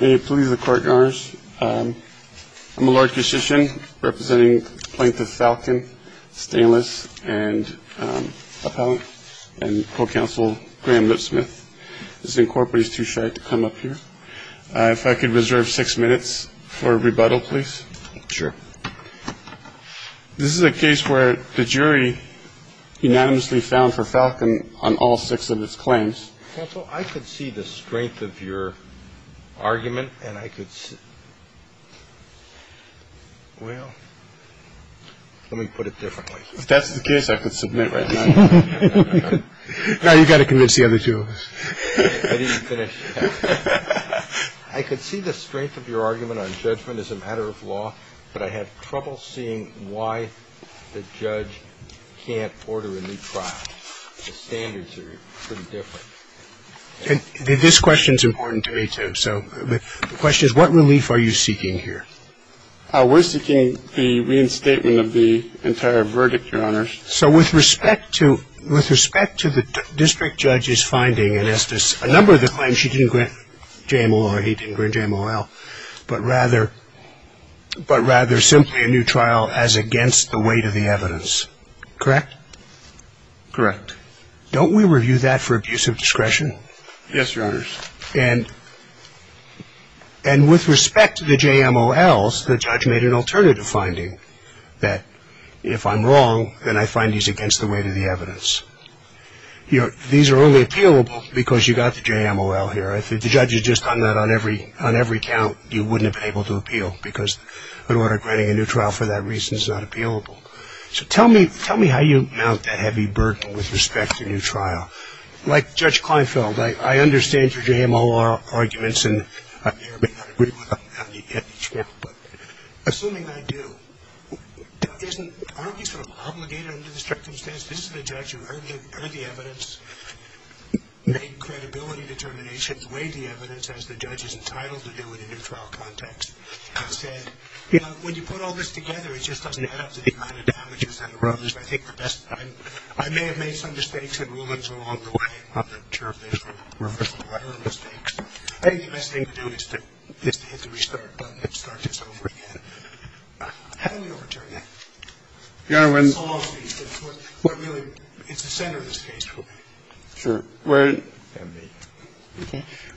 I'm a lawyer representing plaintiff Falcon, Stainless, and appellant and co-counsel Graham Lipsmith. This incorporates too shy to come up here. If I could reserve six minutes for rebuttal, please. Sure. This is a case where the jury unanimously found for Falcon on all six of its claims. Counsel, I could see the strength of your argument and I could. Well, let me put it differently. If that's the case, I could submit right now. Now you've got to convince the other two. I could see the strength of your argument on judgment as a matter of law, but I have trouble seeing why the judge can't order a new trial. The standards are pretty different. And this question is important to me, too. So the question is, what relief are you seeking here? We're seeking the reinstatement of the entire verdict, Your Honors. So with respect to with respect to the district judge's finding and as to a number of the claims she didn't grant JMOL or he didn't grant JMOL, but rather but rather simply a new trial as against the weight of the evidence. Correct? Correct. Don't we review that for abuse of discretion? Yes, Your Honors. And with respect to the JMOLs, the judge made an alternative finding that if I'm wrong, then I find these against the weight of the evidence. These are only appealable because you got the JMOL here. If the judge had just done that on every count, you wouldn't have been able to appeal because an order granting a new trial for that reason is not appealable. So tell me how you mount that heavy burden with respect to a new trial. Like Judge Kleinfeld, I understand your JMOL arguments, and I may or may not agree with them. Assuming I do, aren't we sort of obligated under the circumstance this is the judge who heard the evidence, made credibility determinations, weighed the evidence as the judge is entitled to do in a new trial context, and said, you know, when you put all this together, it just doesn't add up to the amount of damages that arose. I think the best – I may have made some mistakes and rulings along the way. I'm not sure if they were errors or mistakes. I think the best thing to do is to hit the restart button and start this over again. How do we overturn that? Your Honor, when – It's the center of this case for me. Sure. When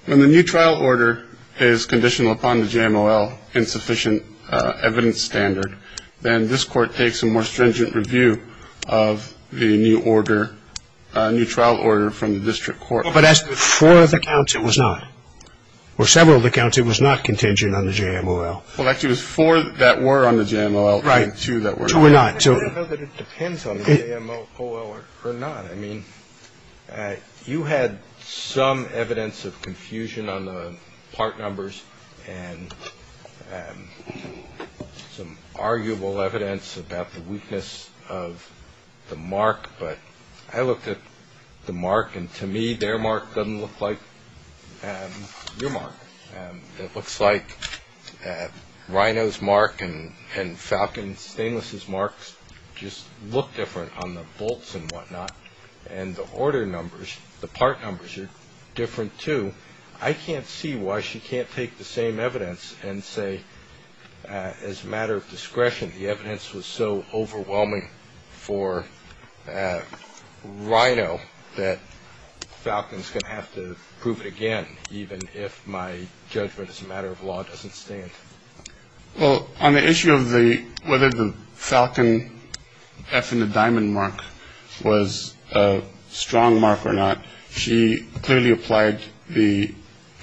the new trial order is conditional upon the JMOL insufficient evidence standard, then this Court takes a more stringent review of the new order, new trial order from the district court. But as to the four of the counts, it was not. For several of the counts, it was not contingent on the JMOL. Well, actually, it was four that were on the JMOL and two that were not. Right. Two were not. I don't know that it depends on the JMOL or not. I mean, you had some evidence of confusion on the part numbers and some arguable evidence about the weakness of the mark. But I looked at the mark, and to me, their mark doesn't look like your mark. It looks like Rhino's mark and Falcon Stainless's mark just look different on the bolts and whatnot. And the order numbers, the part numbers are different, too. I can't see why she can't take the same evidence and say, as a matter of discretion, the evidence was so overwhelming for Rhino that Falcon's going to have to prove it again, even if my judgment as a matter of law doesn't stand. Well, on the issue of whether the Falcon F in the Diamond mark was a strong mark or not, she clearly applied the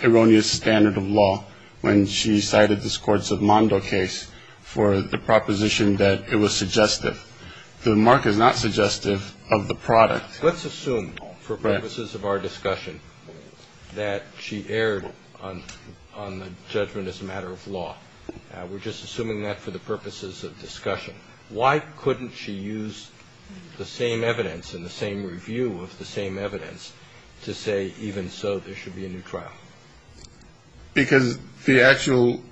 erroneous standard of law when she cited this Courts of Mondo case for the proposition that it was suggestive. The mark is not suggestive of the product. Let's assume for purposes of our discussion that she erred on the judgment as a matter of law. We're just assuming that for the purposes of discussion. Why couldn't she use the same evidence and the same review of the same evidence to say, even so, there should be a new trial? Because the actual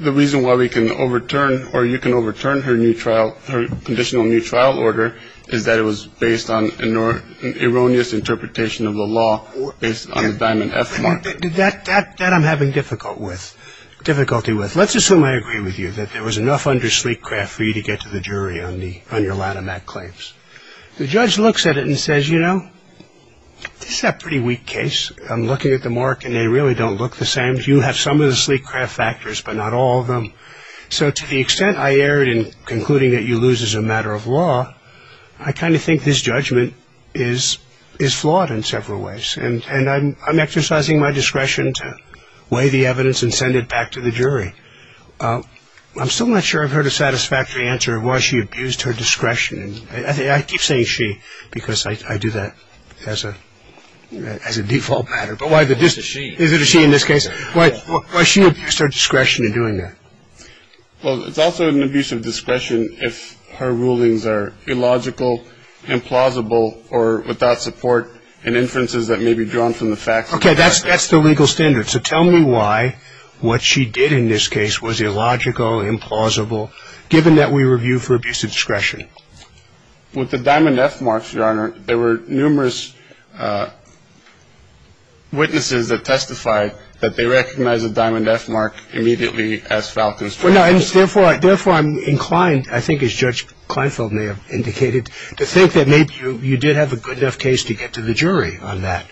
reason why we can overturn or you can overturn her new trial, her conditional new trial order, is that it was based on an erroneous interpretation of the law based on the Diamond F mark. That I'm having difficulty with. Let's assume I agree with you, that there was enough under sleek craft for you to get to the jury on your Lanham Act claims. The judge looks at it and says, you know, this is a pretty weak case. I'm looking at the mark, and they really don't look the same. You have some of the sleek craft factors, but not all of them. So to the extent I erred in concluding that you lose as a matter of law, I kind of think this judgment is flawed in several ways. And I'm exercising my discretion to weigh the evidence and send it back to the jury. I'm still not sure I've heard a satisfactory answer of why she abused her discretion. I keep saying she because I do that as a default matter. Is it a she in this case? Why she abused her discretion in doing that? Well, it's also an abuse of discretion if her rulings are illogical, implausible, or without support and inferences that may be drawn from the facts. Okay, that's the legal standard. So tell me why what she did in this case was illogical, implausible, given that we review for abuse of discretion. With the diamond F marks, Your Honor, there were numerous witnesses that testified that they recognized the diamond F mark immediately as Falcone's fault. Well, no, and therefore I'm inclined, I think as Judge Kleinfeld may have indicated, to think that maybe you did have a good enough case to get to the jury on that.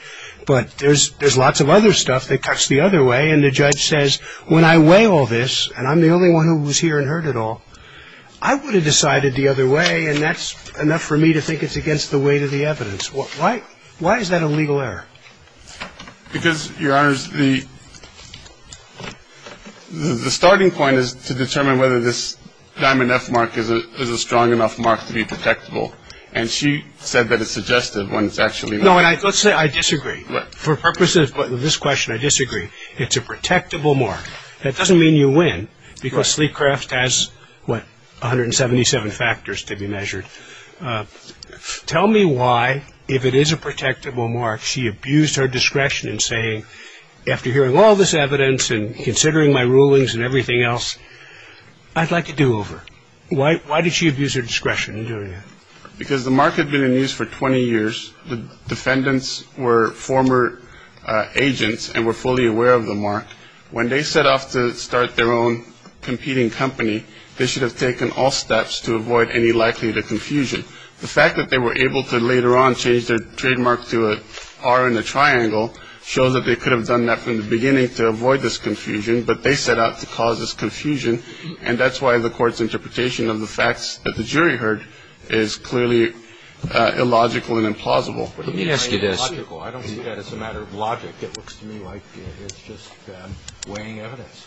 But there's lots of other stuff that cuts the other way. And the judge says, when I weigh all this, and I'm the only one who was here and heard it all, I would have decided the other way, and that's enough for me to think it's against the weight of the evidence. Why is that a legal error? Because, Your Honor, the starting point is to determine whether this diamond F mark is a strong enough mark to be protectable. And she said that it's suggestive when it's actually not. No, and let's say I disagree. For purposes of this question, I disagree. It's a protectable mark. That doesn't mean you win, because Sleecraft has, what, 177 factors to be measured. Tell me why, if it is a protectable mark, she abused her discretion in saying, after hearing all this evidence and considering my rulings and everything else, I'd like a do-over. Why did she abuse her discretion in doing that? Because the mark had been in use for 20 years. The defendants were former agents and were fully aware of the mark. When they set off to start their own competing company, they should have taken all steps to avoid any likelihood of confusion. The fact that they were able to later on change their trademark to an R in the triangle shows that they could have done that from the beginning to avoid this confusion, but they set out to cause this confusion, and that's why the Court's interpretation of the facts that the jury heard is clearly illogical and implausible. Let me ask you this. I don't see that as a matter of logic. It looks to me like it's just weighing evidence.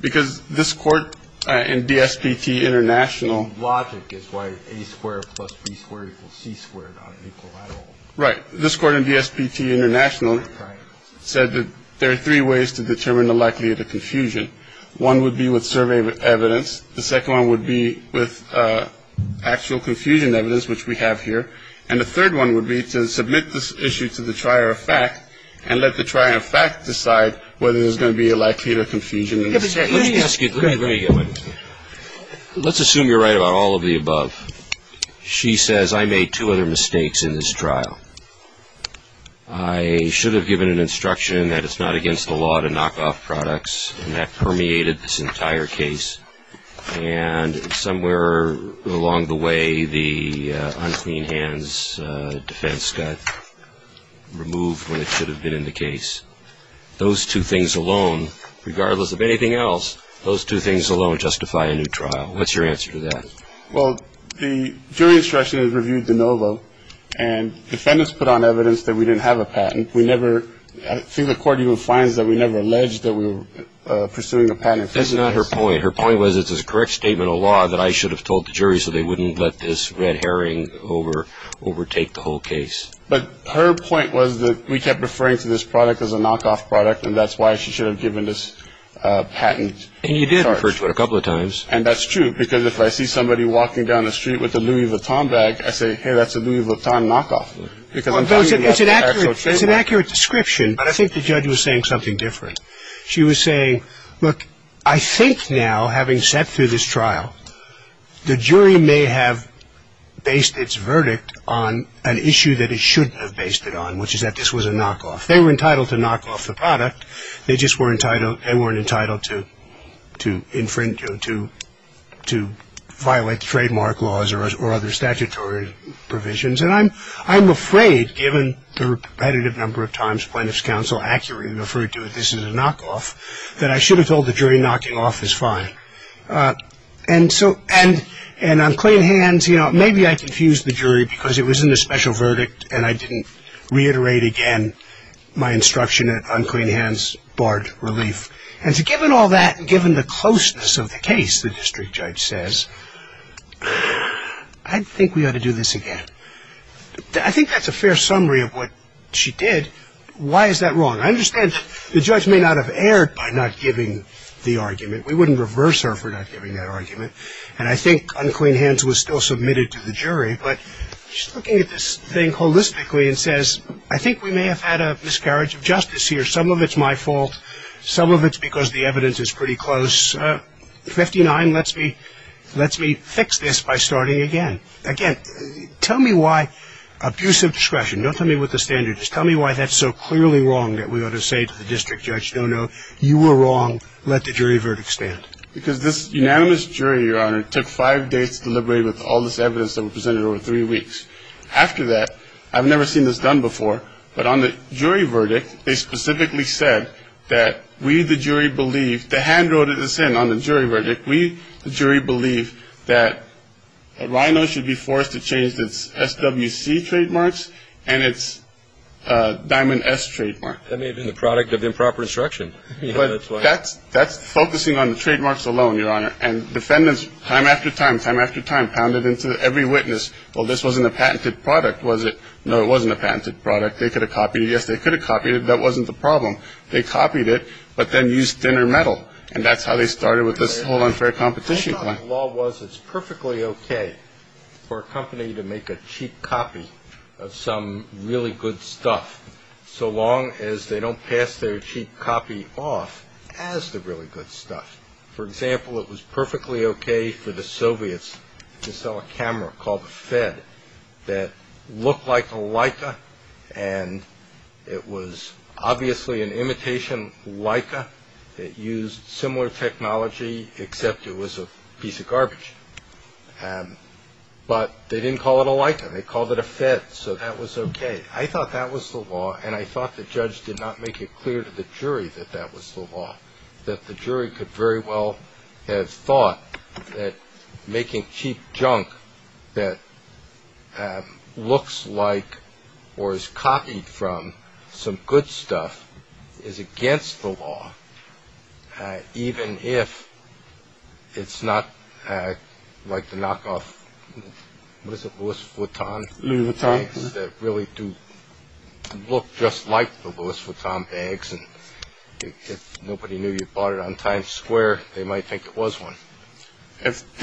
Because this Court in DSPT International. Logic is why A squared plus B squared equals C squared on an equilateral. Right. This Court in DSPT International said that there are three ways to determine the likelihood of confusion. One would be with survey evidence. The second one would be with actual confusion evidence, which we have here. And the third one would be to submit this issue to the trier of fact and let the trier of fact decide whether there's going to be a likelihood of confusion. Let me ask you. Let me get one. Let's assume you're right about all of the above. She says, I made two other mistakes in this trial. I should have given an instruction that it's not against the law to knock off products, and that permeated this entire case. And somewhere along the way, the unclean hands defense got removed when it should have been in the case. Those two things alone, regardless of anything else, those two things alone justify a new trial. What's your answer to that? Well, the jury instruction is reviewed de novo, and defendants put on evidence that we didn't have a patent. We never, I think the Court even finds that we never alleged that we were pursuing a patent. That's not her point. Her point was it's a correct statement of law that I should have told the jury so they wouldn't let this red herring overtake the whole case. But her point was that we kept referring to this product as a knockoff product, and that's why she should have given this patent charge. And you did refer to it a couple of times. And that's true, because if I see somebody walking down the street with a Louis Vuitton bag, I say, hey, that's a Louis Vuitton knockoff. It's an accurate description, but I think the judge was saying something different. She was saying, look, I think now, having sat through this trial, the jury may have based its verdict on an issue that it shouldn't have based it on, which is that this was a knockoff. They were entitled to knock off the product. They just weren't entitled to violate the trademark laws or other statutory provisions. And I'm afraid, given the repetitive number of times plaintiff's counsel accurately referred to this as a knockoff, that I should have told the jury knocking off is fine. And on clean hands, you know, maybe I confused the jury because it was in the special verdict and I didn't reiterate again my instruction on clean hands, barred relief. And so given all that and given the closeness of the case, the district judge says, I think we ought to do this again. I think that's a fair summary of what she did. Why is that wrong? I understand the judge may not have erred by not giving the argument. We wouldn't reverse her for not giving that argument. And I think unclean hands was still submitted to the jury. But she's looking at this thing holistically and says, I think we may have had a miscarriage of justice here. Some of it's my fault. Some of it's because the evidence is pretty close. 59 lets me fix this by starting again. Again, tell me why abusive discretion. Don't tell me what the standard is. Tell me why that's so clearly wrong that we ought to say to the district judge, no, no, you were wrong. Let the jury verdict stand. Because this unanimous jury, Your Honor, took five dates to deliberate with all this evidence that was presented over three weeks. After that, I've never seen this done before, but on the jury verdict, they specifically said that we, the jury, believe the hand wrote this in on the jury verdict. We, the jury, believe that RINO should be forced to change its SWC trademarks and its Diamond S trademark. That may have been the product of improper instruction. That's focusing on the trademarks alone, Your Honor. And defendants, time after time, time after time, pounded into every witness. Well, this wasn't a patented product, was it? No, it wasn't a patented product. They could have copied it. Yes, they could have copied it. That wasn't the problem. They copied it, but then used thinner metal, and that's how they started with this whole unfair competition plan. The law was it's perfectly okay for a company to make a cheap copy of some really good stuff, so long as they don't pass their cheap copy off as the really good stuff. For example, it was perfectly okay for the Soviets to sell a camera called the Fed that looked like a Leica, and it was obviously an imitation Leica. It used similar technology, except it was a piece of garbage. But they didn't call it a Leica. They called it a Fed, so that was okay. I thought that was the law, and I thought the judge did not make it clear to the jury that that was the law, that the jury could very well have thought that making cheap junk that looks like or is copied from some good stuff is against the law, even if it's not like the knockoff Louis Vuitton bags that really do look just like the Louis Vuitton bags, and if nobody knew you bought it on Times Square, they might think it was one. If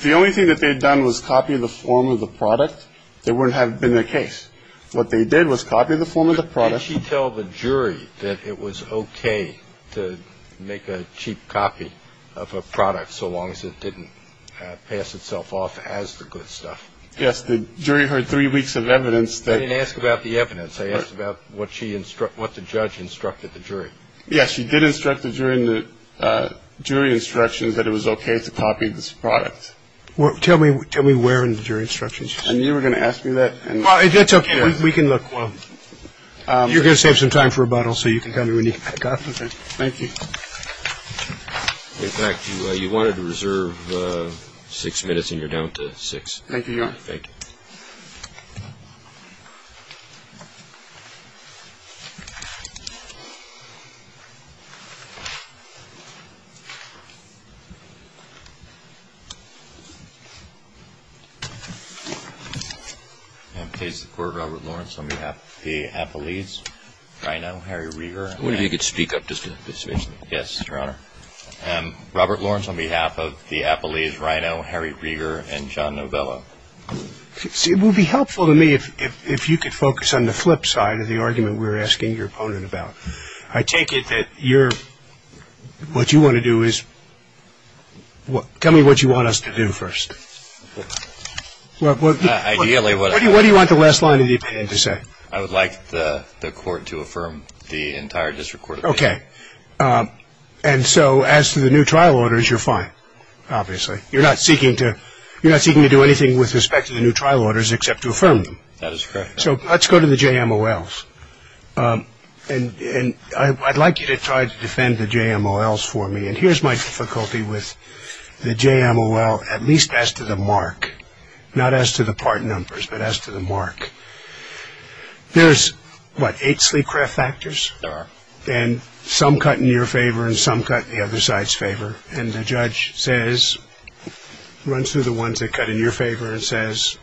the only thing that they'd done was copy the form of the product, that wouldn't have been the case. What they did was copy the form of the product. Did she tell the jury that it was okay to make a cheap copy of a product, so long as it didn't pass itself off as the good stuff? Yes. The jury heard three weeks of evidence. I didn't ask about the evidence. I asked about what the judge instructed the jury. Yes, she did instruct the jury in the jury instructions that it was okay to copy this product. Tell me where in the jury instructions. You were going to ask me that? That's okay. We can look. You're going to save some time for rebuttal, so you can tell me when you got it. Thank you. In fact, you wanted to reserve six minutes, and you're down to six. Thank you, Your Honor. Thank you. I'm pleased to report Robert Lawrence on behalf of the Apolles, Rino, Harry Rieger and John Novella. I wonder if you could speak up just a bit. Yes, Your Honor. Robert Lawrence on behalf of the Apolles, Rino, Harry Rieger and John Novella. It will be helpful to me if you could focus on the flipside. of the argument we're asking your opponent about. I take it that you're, what you want to do is, tell me what you want us to do first. Ideally, what do you want the last line of the opinion to say? I would like the court to affirm the entire district court opinion. Okay. And so as to the new trial orders, you're fine, obviously. You're not seeking to do anything with respect to the new trial orders except to affirm them. That is correct. So let's go to the JMOLs. And I'd like you to try to defend the JMOLs for me. And here's my difficulty with the JMOL, at least as to the mark. Not as to the part numbers, but as to the mark. There's, what, eight sleep craft factors? There are. And some cut in your favor and some cut in the other side's favor. And the judge says, runs through the ones that cut in your favor and says,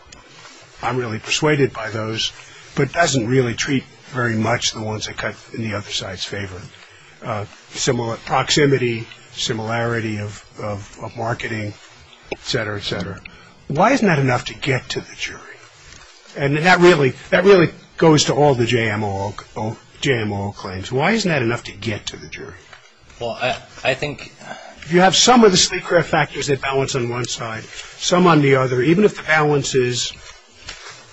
I'm really persuaded by those, but doesn't really treat very much the ones that cut in the other side's favor. Proximity, similarity of marketing, et cetera, et cetera. Why isn't that enough to get to the jury? And that really goes to all the JMOL claims. Why isn't that enough to get to the jury? Well, I think you have some of the sleep craft factors that balance on one side, some on the other. Even if the balance is,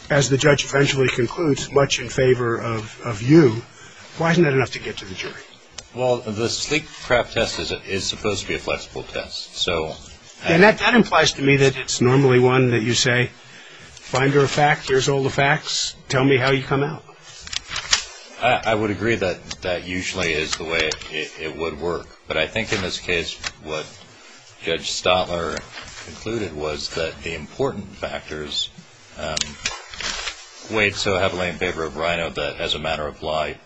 as the judge eventually concludes, much in favor of you, why isn't that enough to get to the jury? Well, the sleep craft test is supposed to be a flexible test. And that implies to me that it's normally one that you say, finder of fact, here's all the facts. Tell me how you come out. I would agree that that usually is the way it would work. But I think in this case, what Judge Stotler concluded was that the important factors weighed so heavily in favor of RINO that as a matter of lie,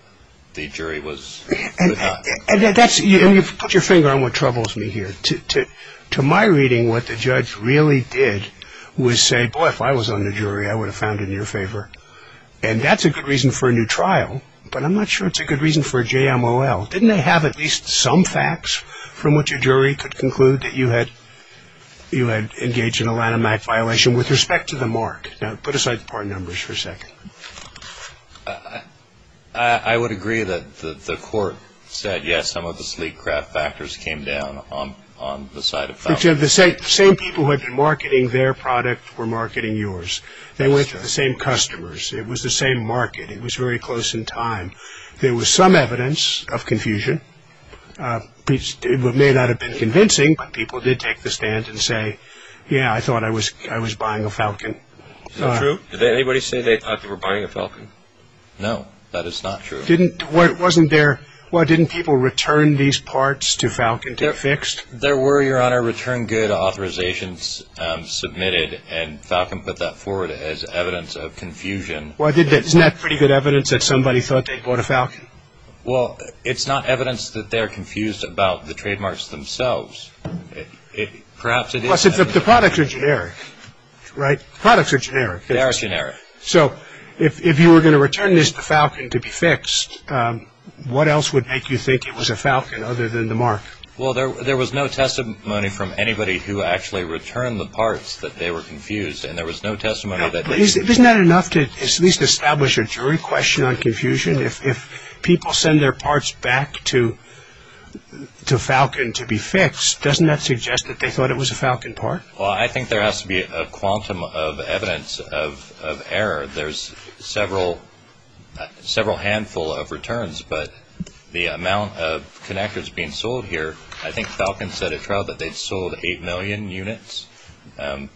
the jury was not. And you've put your finger on what troubles me here. To my reading, what the judge really did was say, boy, if I was on the jury, I would have found it in your favor. And that's a good reason for a new trial. But I'm not sure it's a good reason for a JMOL. Didn't they have at least some facts from which a jury could conclude that you had engaged in a Lanham Act violation with respect to the mark? Now, put aside the part numbers for a second. I would agree that the court said, yes, some of the sleep craft factors came down on the side of foundation. The same people who had been marketing their product were marketing yours. They went to the same customers. It was the same market. It was very close in time. There was some evidence of confusion. It may not have been convincing, but people did take the stand and say, yeah, I thought I was buying a Falcon. Is that true? Did anybody say they thought they were buying a Falcon? No, that is not true. There were, Your Honor, return good authorizations submitted, and Falcon put that forward as evidence of confusion. Isn't that pretty good evidence that somebody thought they bought a Falcon? Well, it's not evidence that they're confused about the trademarks themselves. Plus, the products are generic, right? Products are generic. They are generic. So if you were going to return this to Falcon to be fixed, what else would make you think it was a Falcon other than the mark? Well, there was no testimony from anybody who actually returned the parts that they were confused, and there was no testimony that they were confused. Isn't that enough to at least establish a jury question on confusion? If people send their parts back to Falcon to be fixed, doesn't that suggest that they thought it was a Falcon part? Well, I think there has to be a quantum of evidence of error. There's several handful of returns, but the amount of connectives being sold here, I think Falcon set a trial that they sold 8 million units. It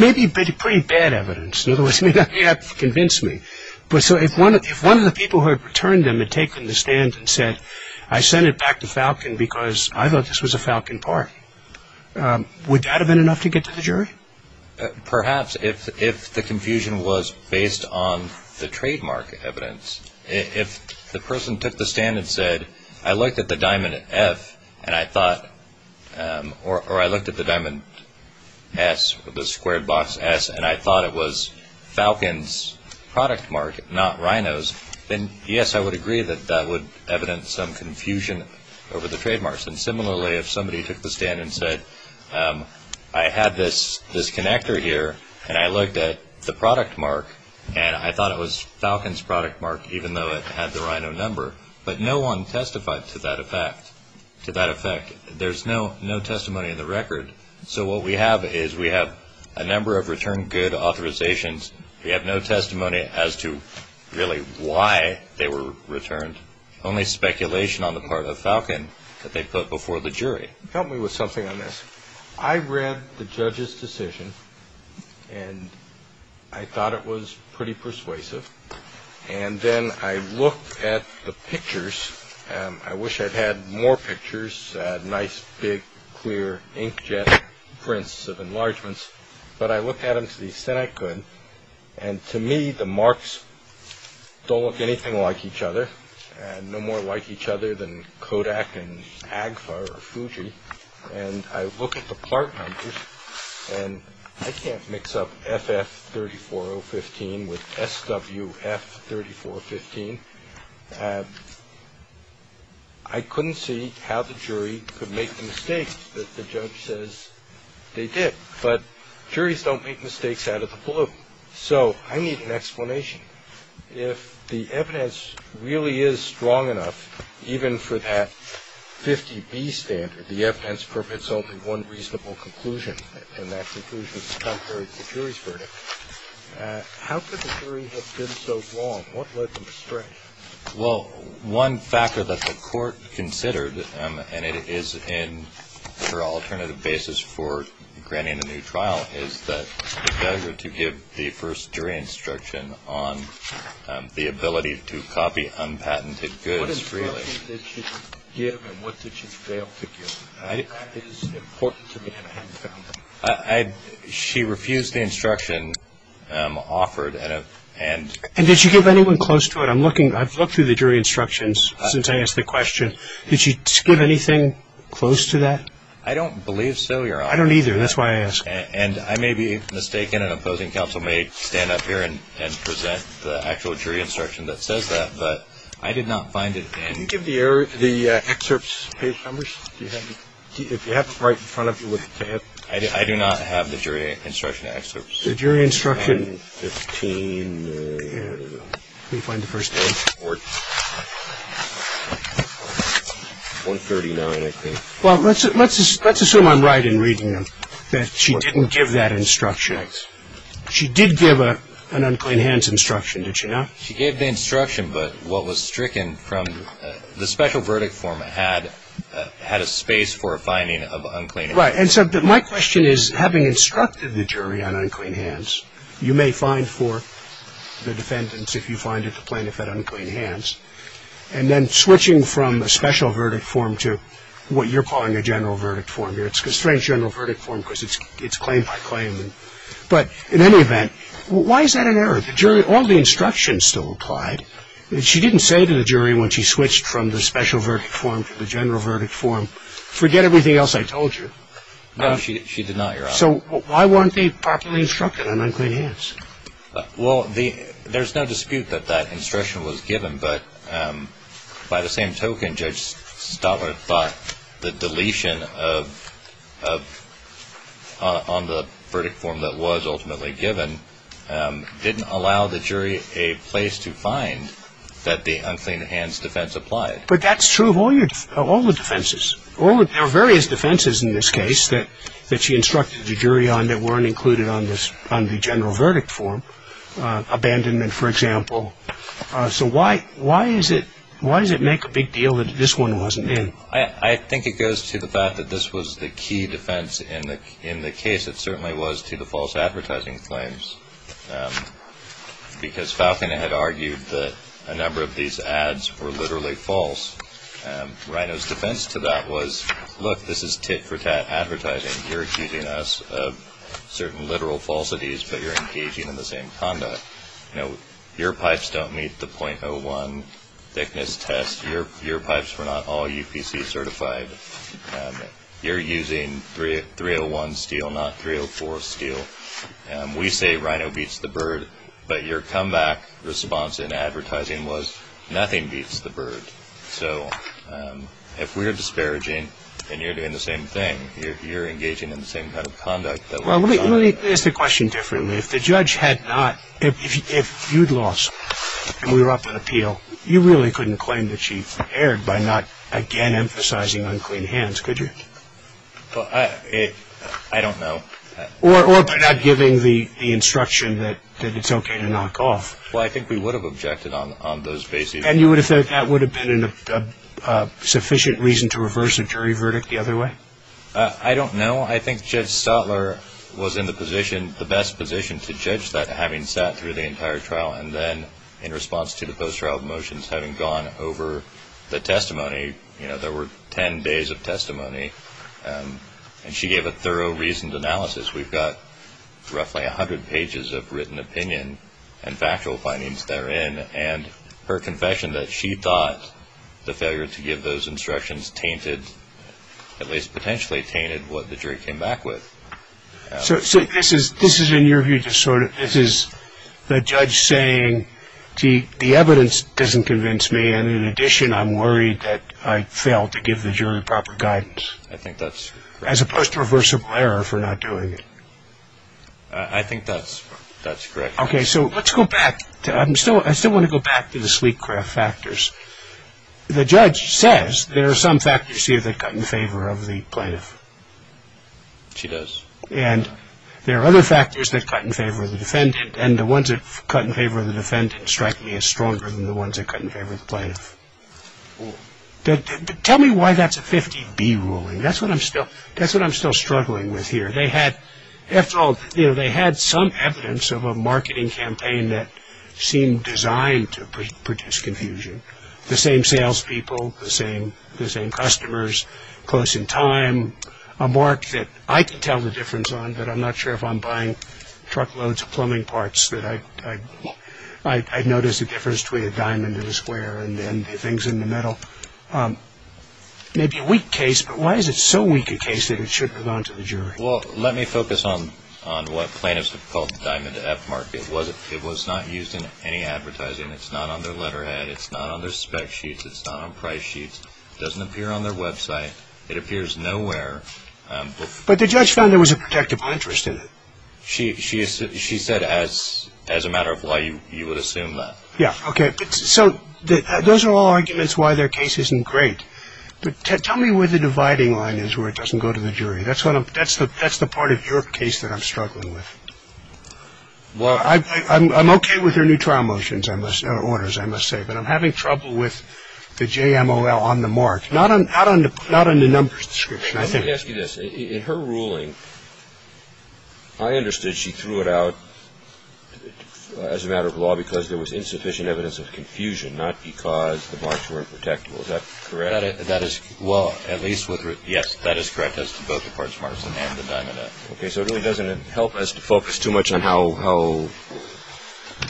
may be pretty bad evidence. In other words, you have to convince me. So if one of the people who had returned them had taken the stand and said, I sent it back to Falcon because I thought this was a Falcon part, would that have been enough to get to the jury? Perhaps if the confusion was based on the trademark evidence. If the person took the stand and said, I looked at the diamond F, or I looked at the diamond S, the squared box S, and I thought it was Falcon's product mark, not Rhino's, then yes, I would agree that that would evidence some confusion over the trademarks. And similarly, if somebody took the stand and said, I had this connector here, and I looked at the product mark, and I thought it was Falcon's product mark, even though it had the Rhino number. But no one testified to that effect. There's no testimony in the record. So what we have is we have a number of return good authorizations. We have no testimony as to really why they were returned. Only speculation on the part of Falcon that they put before the jury. Help me with something on this. I read the judge's decision, and I thought it was pretty persuasive. And then I looked at the pictures. I wish I'd had more pictures, nice, big, clear inkjet prints of enlargements. But I looked at them to the extent I could. And to me, the marks don't look anything like each other, and no more like each other than Kodak and Agfa or Fuji. And I look at the part numbers, and I can't mix up FF34015 with SWF3415. I couldn't see how the jury could make the mistake that the judge says they did. But juries don't make mistakes out of the blue. So I need an explanation. If the evidence really is strong enough, even for that 50B standard, the evidence permits only one reasonable conclusion, and that conclusion is contrary to the jury's verdict, how could the jury have been so wrong? What led them astray? Well, one factor that the court considered, and it is in her alternative basis for granting a new trial, is that it's better to give the first jury instruction on the ability to copy unpatented goods freely. What instruction did she give, and what did she fail to give? That is important to me, and I haven't found it. She refused the instruction offered. And did she give anyone close to it? I've looked through the jury instructions since I asked the question. Did she give anything close to that? I don't believe so, Your Honor. I don't either. That's why I asked. And I may be mistaken, and an opposing counsel may stand up here and present the actual jury instruction that says that. But I did not find it. Could you give the excerpts, page numbers, if you have them right in front of you with the tape? I do not have the jury instruction excerpts. The jury instruction. Let me find the first page. Well, let's assume I'm right in reading them, that she didn't give that instruction. She did give an unclean hands instruction, did she not? She gave the instruction, but what was stricken from the special verdict form had a space for a finding of unclean hands. Right. And so my question is, having instructed the jury on unclean hands, you may find for the defendants, if you find it, the plaintiff had unclean hands. And then switching from the special verdict form to what you're calling a general verdict form here. It's a strange general verdict form because it's claim by claim. But in any event, why is that an error? All the instructions still applied. She didn't say to the jury when she switched from the special verdict form to the general verdict form, forget everything else I told you. No, she did not, Your Honor. So why weren't they properly instructed on unclean hands? Well, there's no dispute that that instruction was given, but by the same token, Judge Stotler thought the deletion on the verdict form that was ultimately given didn't allow the jury a place to find that the unclean hands defense applied. But that's true of all the defenses. There are various defenses in this case that she instructed the jury on that weren't included on the general verdict form. Abandonment, for example. So why does it make a big deal that this one wasn't in? I think it goes to the fact that this was the key defense in the case. It certainly was to the false advertising claims. Because Falcon had argued that a number of these ads were literally false. Rhino's defense to that was, look, this is tit-for-tat advertising. You're accusing us of certain literal falsities, but you're engaging in the same conduct. You know, your pipes don't meet the .01 thickness test. Your pipes were not all UPC certified. You're using 301 steel, not 304 steel. We say Rhino beats the bird, but your comeback response in advertising was nothing beats the bird. So if we're disparaging and you're doing the same thing, you're engaging in the same kind of conduct. Well, let me ask the question differently. If the judge had not, if you'd lost and we were up in appeal, you really couldn't claim that she erred by not again emphasizing unclean hands, could you? I don't know. Or by not giving the instruction that it's okay to knock off. Well, I think we would have objected on those bases. And you would have said that would have been a sufficient reason to reverse a jury verdict the other way? I don't know. I think Judge Stotler was in the position, the best position to judge that, having sat through the entire trial and then in response to the post-trial motions, having gone over the testimony, you know, there were ten days of testimony. And she gave a thorough, reasoned analysis. We've got roughly 100 pages of written opinion and factual findings therein. And her confession that she thought the failure to give those instructions tainted, at least potentially tainted what the jury came back with. So this is, in your view, just sort of, this is the judge saying, gee, the evidence doesn't convince me. And in addition, I'm worried that I failed to give the jury proper guidance. I think that's correct. As opposed to reversible error for not doing it. I think that's correct. Okay. So let's go back. I still want to go back to the sleek craft factors. The judge says there are some factors here that cut in favor of the plaintiff. She does. And there are other factors that cut in favor of the defendant. And the ones that cut in favor of the defendant strike me as stronger than the ones that cut in favor of the plaintiff. Tell me why that's a 50-B ruling. That's what I'm still struggling with here. They had, after all, you know, they had some evidence of a marketing campaign that seemed designed to produce confusion. The same salespeople, the same customers, close in time. A mark that I can tell the difference on, but I'm not sure if I'm buying truckloads of plumbing parts, that I've noticed a difference between a diamond and a square and then the things in the middle. Maybe a weak case, but why is it so weak a case that it shouldn't have gone to the jury? Well, let me focus on what plaintiffs have called the diamond F mark. It was not used in any advertising. It's not on their letterhead. It's not on their spec sheets. It's not on price sheets. It doesn't appear on their website. It appears nowhere. But the judge found there was a protective interest in it. She said as a matter of why you would assume that. Yeah, okay. So those are all arguments why their case isn't great. But tell me where the dividing line is where it doesn't go to the jury. That's the part of your case that I'm struggling with. Well, I'm okay with their new trial motions, or orders, I must say, but I'm having trouble with the JMOL on the mark. Not on the numbers description, I think. Let me ask you this. In her ruling, I understood she threw it out as a matter of law because there was insufficient evidence of confusion, not because the marks were unprotectable. Is that correct? That is, well, at least, yes, that is correct as to both the parts of the diamond F. Okay. So it really doesn't help us to focus too much on how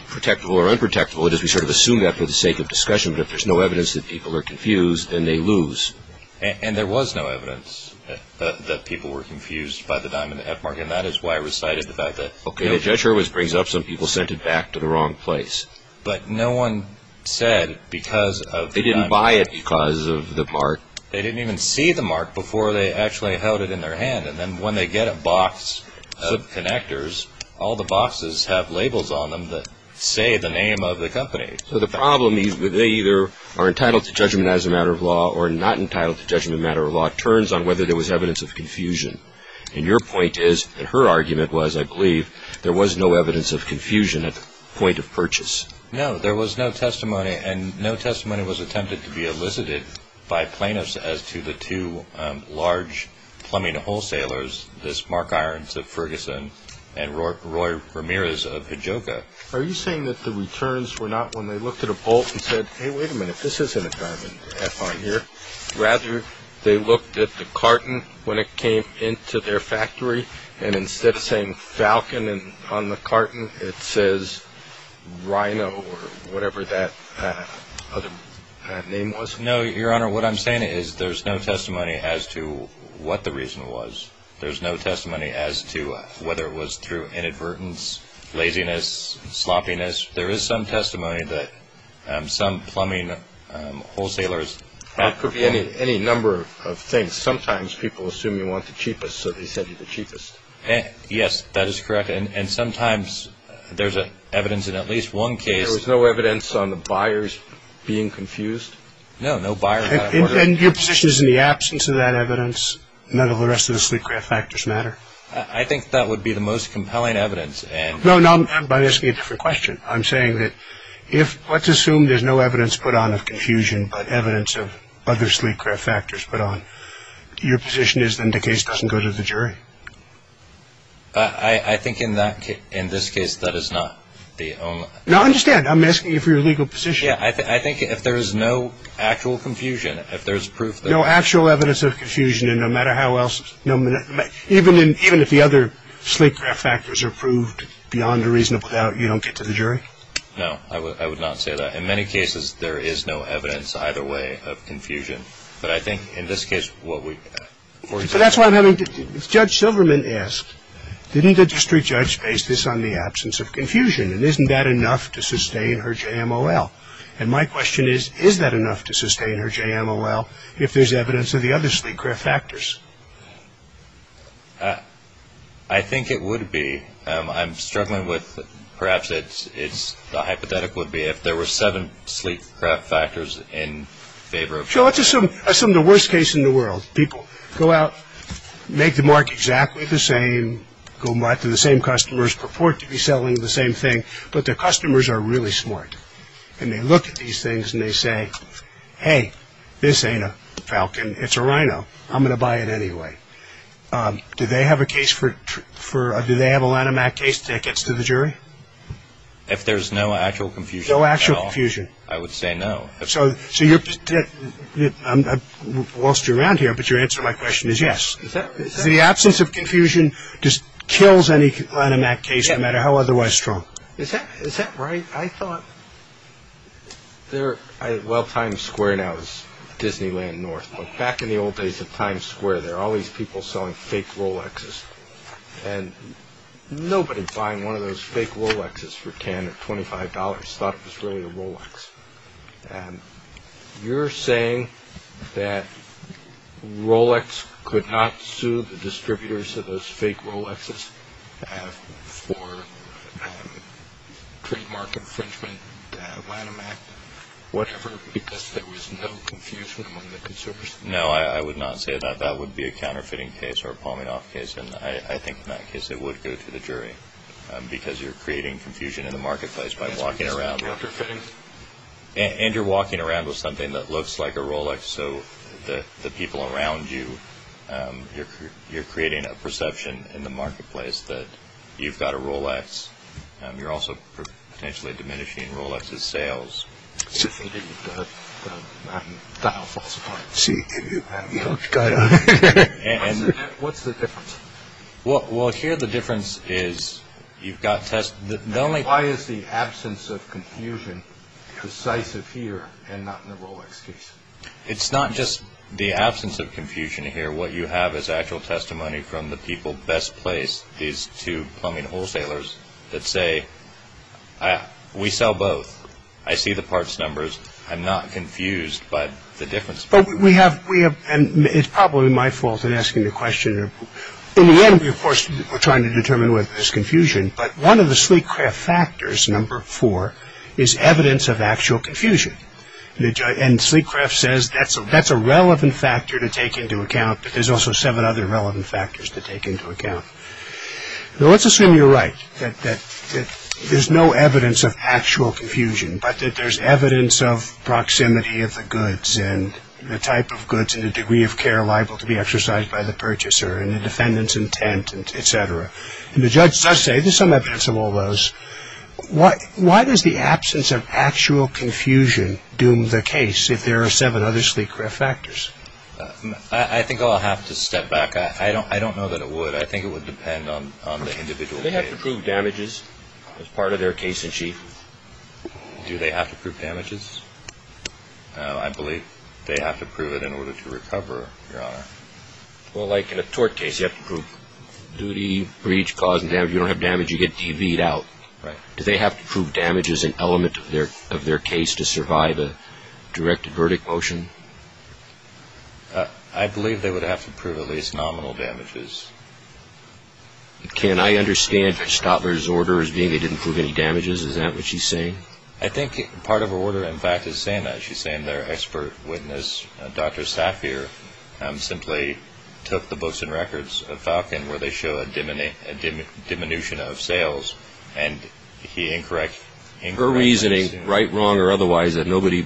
protectable or unprotectable it is. We sort of assume that for the sake of discussion. But if there's no evidence that people are confused, then they lose. And there was no evidence that people were confused by the diamond F mark, and that is why I recited the fact that. Okay. The judge always brings up some people sent it back to the wrong place. But no one said because of the diamond. They didn't buy it because of the mark. They didn't even see the mark before they actually held it in their hand. And then when they get a box of connectors, all the boxes have labels on them that say the name of the company. So the problem is that they either are entitled to judgment as a matter of law or are not entitled to judgment as a matter of law. It turns on whether there was evidence of confusion. And your point is, and her argument was, I believe, there was no evidence of confusion at the point of purchase. No, there was no testimony. And no testimony was attempted to be elicited by plaintiffs as to the two large plumbing wholesalers, this Mark Irons of Ferguson and Roy Ramirez of Hijoka. Are you saying that the returns were not when they looked at a bolt and said, hey, wait a minute, this isn't a diamond F on here. Rather, they looked at the carton when it came into their factory, and instead of saying Falcon on the carton, it says Rhino or whatever that other name was? No, Your Honor, what I'm saying is there's no testimony as to what the reason was. There's no testimony as to whether it was through inadvertence, laziness, sloppiness. There is some testimony that some plumbing wholesalers. It could be any number of things. Sometimes people assume you want the cheapest, so they send you the cheapest. Yes, that is correct. And sometimes there's evidence in at least one case. There was no evidence on the buyers being confused? No, no buyers. And your position is in the absence of that evidence? None of the rest of the sleek craft factors matter? I think that would be the most compelling evidence. No, no, I'm asking a different question. I'm saying that if let's assume there's no evidence put on of confusion but evidence of other sleek craft factors put on, your position is then the case doesn't go to the jury? I think in this case that is not the only. No, I understand. I'm asking you for your legal position. Yeah, I think if there's no actual confusion, if there's proof there is. No actual evidence of confusion, and no matter how else, even if the other sleek craft factors are proved beyond a reasonable doubt, you don't get to the jury? No, I would not say that. In many cases there is no evidence either way of confusion. But I think in this case what we've got. But that's what I'm having to do. didn't the district judge base this on the absence of confusion and isn't that enough to sustain her JMOL? And my question is, is that enough to sustain her JMOL if there's evidence of the other sleek craft factors? I think it would be. I'm struggling with perhaps the hypothetical would be if there were seven sleek craft factors in favor of one. Sure, let's assume the worst case in the world. People go out, make the mark exactly the same, go back to the same customers, purport to be selling the same thing, but their customers are really smart. And they look at these things and they say, hey, this ain't a Falcon, it's a Rhino, I'm going to buy it anyway. Do they have a line of mat case tickets to the jury? If there's no actual confusion at all, I would say no. So, whilst you're around here, but your answer to my question is yes. The absence of confusion just kills any line of mat case, no matter how otherwise strong. Is that right? I thought, well, Times Square now is Disneyland North, but back in the old days of Times Square, there were all these people selling fake Rolexes. And nobody buying one of those fake Rolexes for $10 or $25 thought it was really a Rolex. You're saying that Rolex could not sue the distributors of those fake Rolexes for trademark infringement, line of mat, whatever, because there was no confusion among the consumers? No, I would not say that. That would be a counterfeiting case or a palming off case. And I think in that case it would go to the jury, because you're creating confusion in the marketplace by walking around. And you're walking around with something that looks like a Rolex, so the people around you, you're creating a perception in the marketplace that you've got a Rolex. You're also potentially diminishing Rolex's sales. What's the difference? Well, here the difference is you've got test… Why is the absence of confusion decisive here and not in the Rolex case? It's not just the absence of confusion here. What you have is actual testimony from the people best placed, these two plumbing wholesalers, that say, we sell both, I see the parts numbers, I'm not confused by the difference. But we have, and it's probably my fault in asking the question. In the end, of course, we're trying to determine whether there's confusion, but one of the Sleekcraft factors, number four, is evidence of actual confusion. And Sleekcraft says that's a relevant factor to take into account, but there's also seven other relevant factors to take into account. Now, let's assume you're right, that there's no evidence of actual confusion, but that there's evidence of proximity of the goods and the type of goods and the degree of care liable to be exercised by the purchaser and the defendant's intent, et cetera. And the judge does say there's some evidence of all those. Why does the absence of actual confusion doom the case if there are seven other Sleekcraft factors? I think I'll have to step back. I don't know that it would. I think it would depend on the individual case. Do they have to prove damages as part of their case-in-chief? Do they have to prove damages? I believe they have to prove it in order to recover, Your Honor. Well, like in a tort case, you have to prove duty, breach, cause, and damage. You don't have damage, you get DVed out. Do they have to prove damages an element of their case to survive a directed verdict motion? I believe they would have to prove at least nominal damages. Can I understand Ms. Stotler's order as being they didn't prove any damages? Is that what she's saying? I think part of her order, in fact, is saying that. She's saying their expert witness, Dr. Safier, simply took the books and records of Falcon where they show a diminution of sales, and he incorrects it. Her reasoning, right, wrong, or otherwise, is that nobody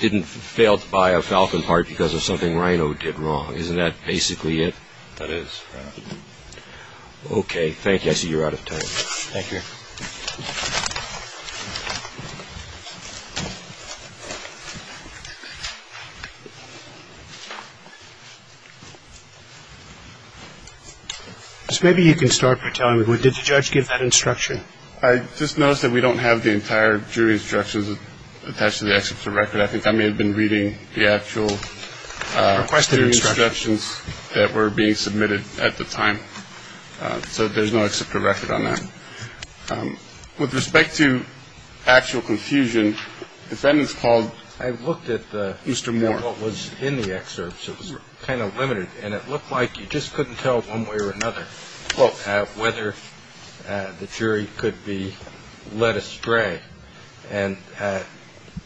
didn't fail to buy a Falcon part because of something Rhino did wrong. Isn't that basically it? That is, Your Honor. Okay, thank you. I see you're out of time. Thank you. Judge, maybe you can start by telling me, did the judge give that instruction? I just noticed that we don't have the entire jury instructions attached to the exceptor record. I think I may have been reading the actual instructions that were being submitted at the time. So there's no exceptor record on that. I looked at the one that was in the excerpts, it was kind of limited, and it looked like you just couldn't tell one way or another whether the jury could be led astray. And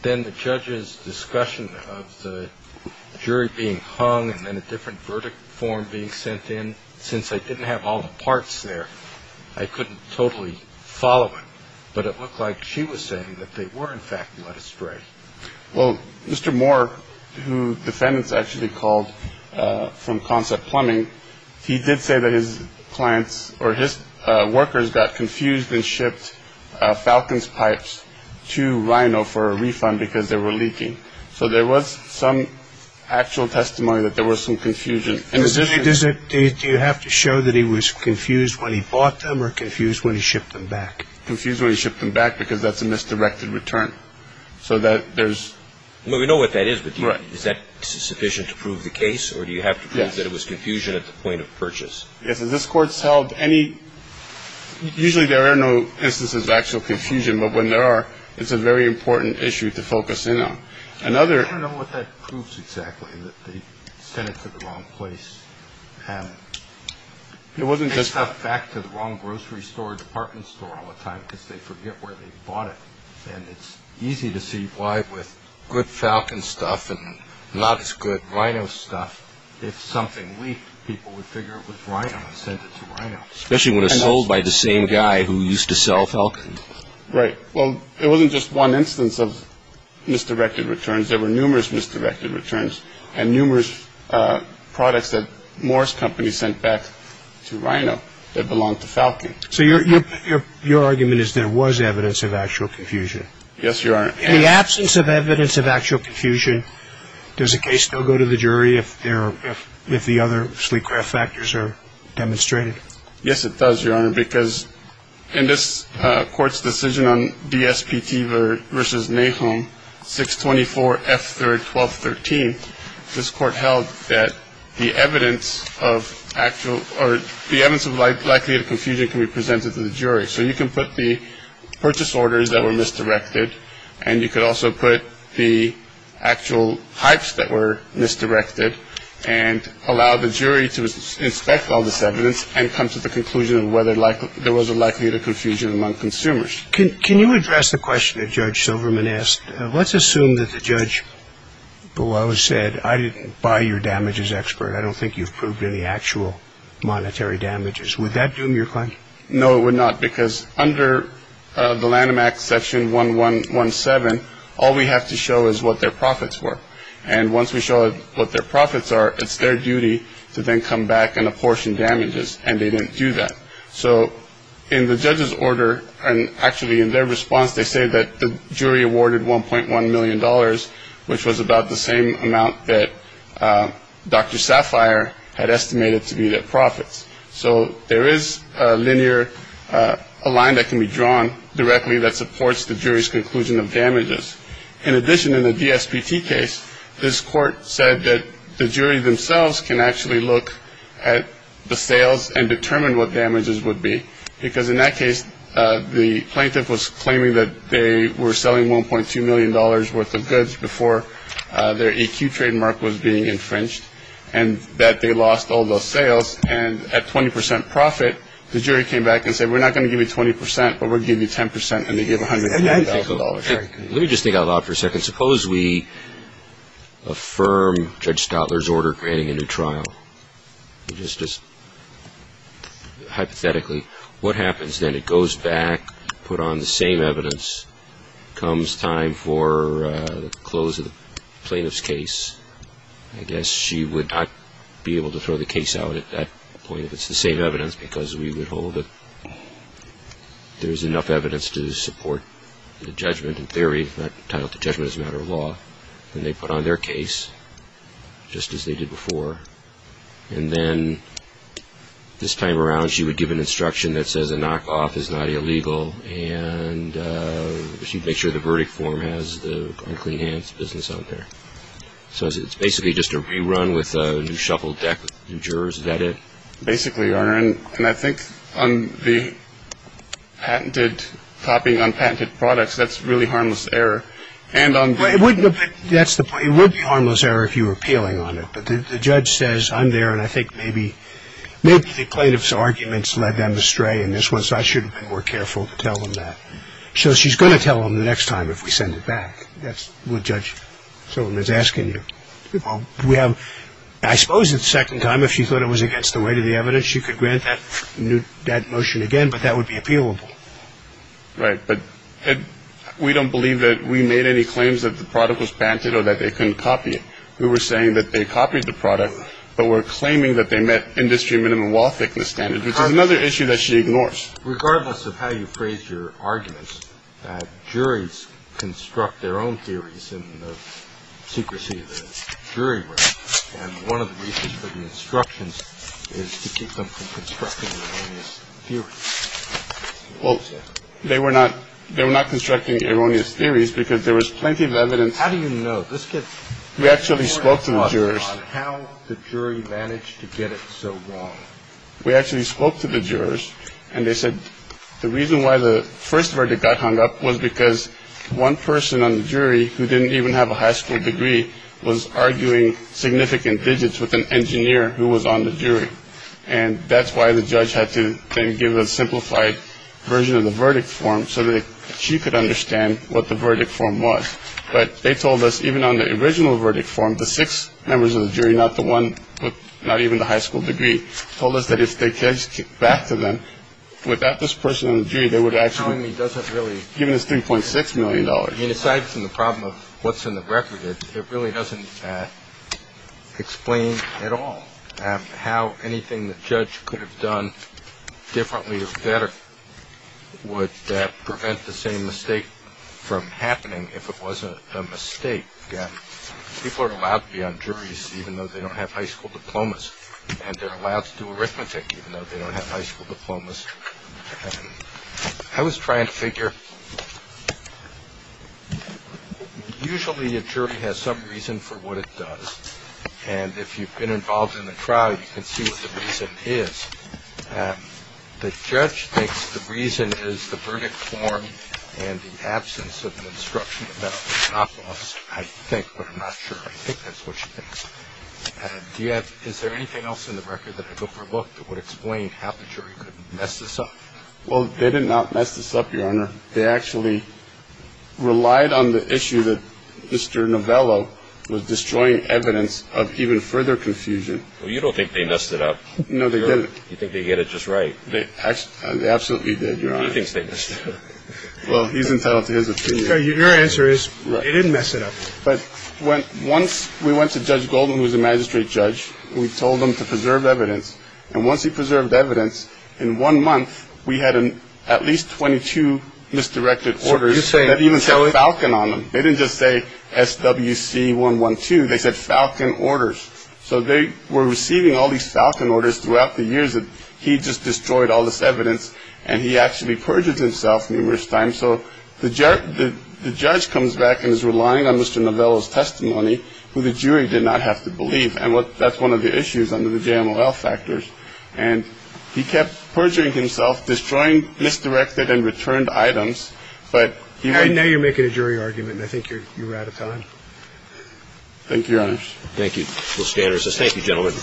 then the judge's discussion of the jury being hung and then a different verdict form being sent in, since I didn't have all the parts there, I couldn't totally follow it. But it looked like she was saying that they were, in fact, led astray. Well, Mr. Moore, who defendants actually called from Concept Plumbing, he did say that his clients or his workers got confused and shipped Falcon's pipes to Rhino for a refund because they were leaking. So there was some actual testimony that there was some confusion. Do you have to show that he was confused when he bought them or confused when he shipped them back? Confused when he shipped them back because that's a misdirected return. We know what that is, but is that sufficient to prove the case or do you have to prove that it was confusion at the point of purchase? Usually there are no instances of actual confusion, but when there are, it's a very important issue to focus in on. I don't know what that proves exactly, that they sent it to the wrong place. They send stuff back to the wrong grocery store or department store all the time because they forget where they bought it. And it's easy to see why with good Falcon stuff and not as good Rhino stuff, if something leaked, people would figure it was Rhino and send it to Rhino. Especially when it's sold by the same guy who used to sell Falcon. Right. Well, it wasn't just one instance of misdirected returns. There were numerous misdirected returns and numerous products that Morris Company sent back to Rhino that belonged to Falcon. So your argument is there was evidence of actual confusion? Yes, Your Honor. In the absence of evidence of actual confusion, does the case still go to the jury if the other sleep-craft factors are demonstrated? Yes, it does, Your Honor, because in this court's decision on DSPT versus Nahum 624 F3RD 1213, this court held that the evidence of likely confusion can be presented to the jury. So you can put the purchase orders that were misdirected, and you could also put the actual types that were misdirected and allow the jury to inspect all this evidence and come to the conclusion of whether there was a likelihood of confusion among consumers. Can you address the question that Judge Silverman asked? Let's assume that the judge below said, I didn't buy your damages expert. I don't think you've proved any actual monetary damages. Would that doom your claim? No, it would not, because under the Lanham Act, Section 1117, all we have to show is what their profits were. And once we show what their profits are, it's their duty to then come back and apportion damages. And they didn't do that. So in the judge's order, and actually in their response, they say that the jury awarded $1.1 million, which was about the same amount that Dr. Sapphire had estimated to be their profits. So there is a line that can be drawn directly that supports the jury's conclusion of damages. In addition, in the DSPT case, this court said that the jury themselves can actually look at the sales and determine what damages would be, because in that case, the plaintiff was claiming that they were selling $1.2 million worth of goods before their EQ trademark was being infringed, and that they lost all those sales. And at 20 percent profit, the jury came back and said, we're not going to give you 20 percent, but we'll give you 10 percent, and they gave $109,000. Let me just think out loud for a second. Suppose we affirm Judge Stotler's order granting a new trial. Just hypothetically, what happens then? It goes back, put on the same evidence, comes time for the close of the plaintiff's case. I guess she would not be able to throw the case out at that point if it's the same evidence, because we would hold that there's enough evidence to support the judgment in theory, entitled to judgment as a matter of law. And they put on their case, just as they did before. And then this time around, she would give an instruction that says a knockoff is not illegal, and she'd make sure the verdict form has the unclean hands business out there. So it's basically just a rerun with a new shuffle deck. New jurors, is that it? Basically, Your Honor. And I think on the patented copying on patented products, that's really harmless error. And on the – It wouldn't – that's the point. It would be harmless error if you were appealing on it. But the judge says, I'm there, and I think maybe the plaintiff's arguments led them astray in this one, so I should have been more careful to tell them that. So she's going to tell them the next time if we send it back. That's what Judge Sullivan is asking you. I suppose the second time, if she thought it was against the weight of the evidence, she could grant that motion again, but that would be appealable. Right, but we don't believe that we made any claims that the product was patented or that they couldn't copy it. We were saying that they copied the product, but we're claiming that they met industry minimum law thickness standards, which is another issue that she ignores. Regardless of how you phrase your arguments, Well, they were not constructing erroneous theories because there was plenty of evidence. How do you know? We actually spoke to the jurors. How the jury managed to get it so wrong? We actually spoke to the jurors, and they said the reason why the – that hung up was because one person on the jury who didn't even have a high school degree was arguing significant digits with an engineer who was on the jury. And that's why the judge had to then give a simplified version of the verdict form so that she could understand what the verdict form was. But they told us, even on the original verdict form, the six members of the jury, not the one with not even the high school degree, told us that if the judge kicked back to them, without this person on the jury, given this $3.6 million. Aside from the problem of what's in the record, it really doesn't explain at all how anything the judge could have done differently or better would prevent the same mistake from happening if it wasn't a mistake. People are allowed to be on juries even though they don't have high school diplomas, and they're allowed to do arithmetic even though they don't have high school diplomas. I was trying to figure – usually a jury has some reason for what it does, and if you've been involved in the trial, you can see what the reason is. The judge thinks the reason is the verdict form and the absence of an instruction about the drop-offs, I think, but I'm not sure. I think that's what she thinks. Is there anything else in the record that I overlooked that would explain how the jury could mess this up? Well, they did not mess this up, Your Honor. They actually relied on the issue that Mr. Novello was destroying evidence of even further confusion. Well, you don't think they messed it up. No, they didn't. You think they did it just right. They absolutely did, Your Honor. He thinks they messed it up. Well, he's entitled to his opinion. Your answer is they didn't mess it up. But once we went to Judge Goldman, who is a magistrate judge, we told him to preserve evidence, and once he preserved evidence, in one month we had at least 22 misdirected orders that even said Falcon on them. They didn't just say SWC 112. They said Falcon orders. So they were receiving all these Falcon orders throughout the years that he just destroyed all this evidence, and he actually perjured himself numerous times. So the judge comes back and is relying on Mr. Novello's testimony, who the jury did not have to believe, and that's one of the issues under the JMLL factors. And he kept perjuring himself, destroying misdirected and returned items. And now you're making a jury argument, and I think you're out of time. Thank you, Your Honor. Thank you, Mr. Anderson. Thank you, gentlemen.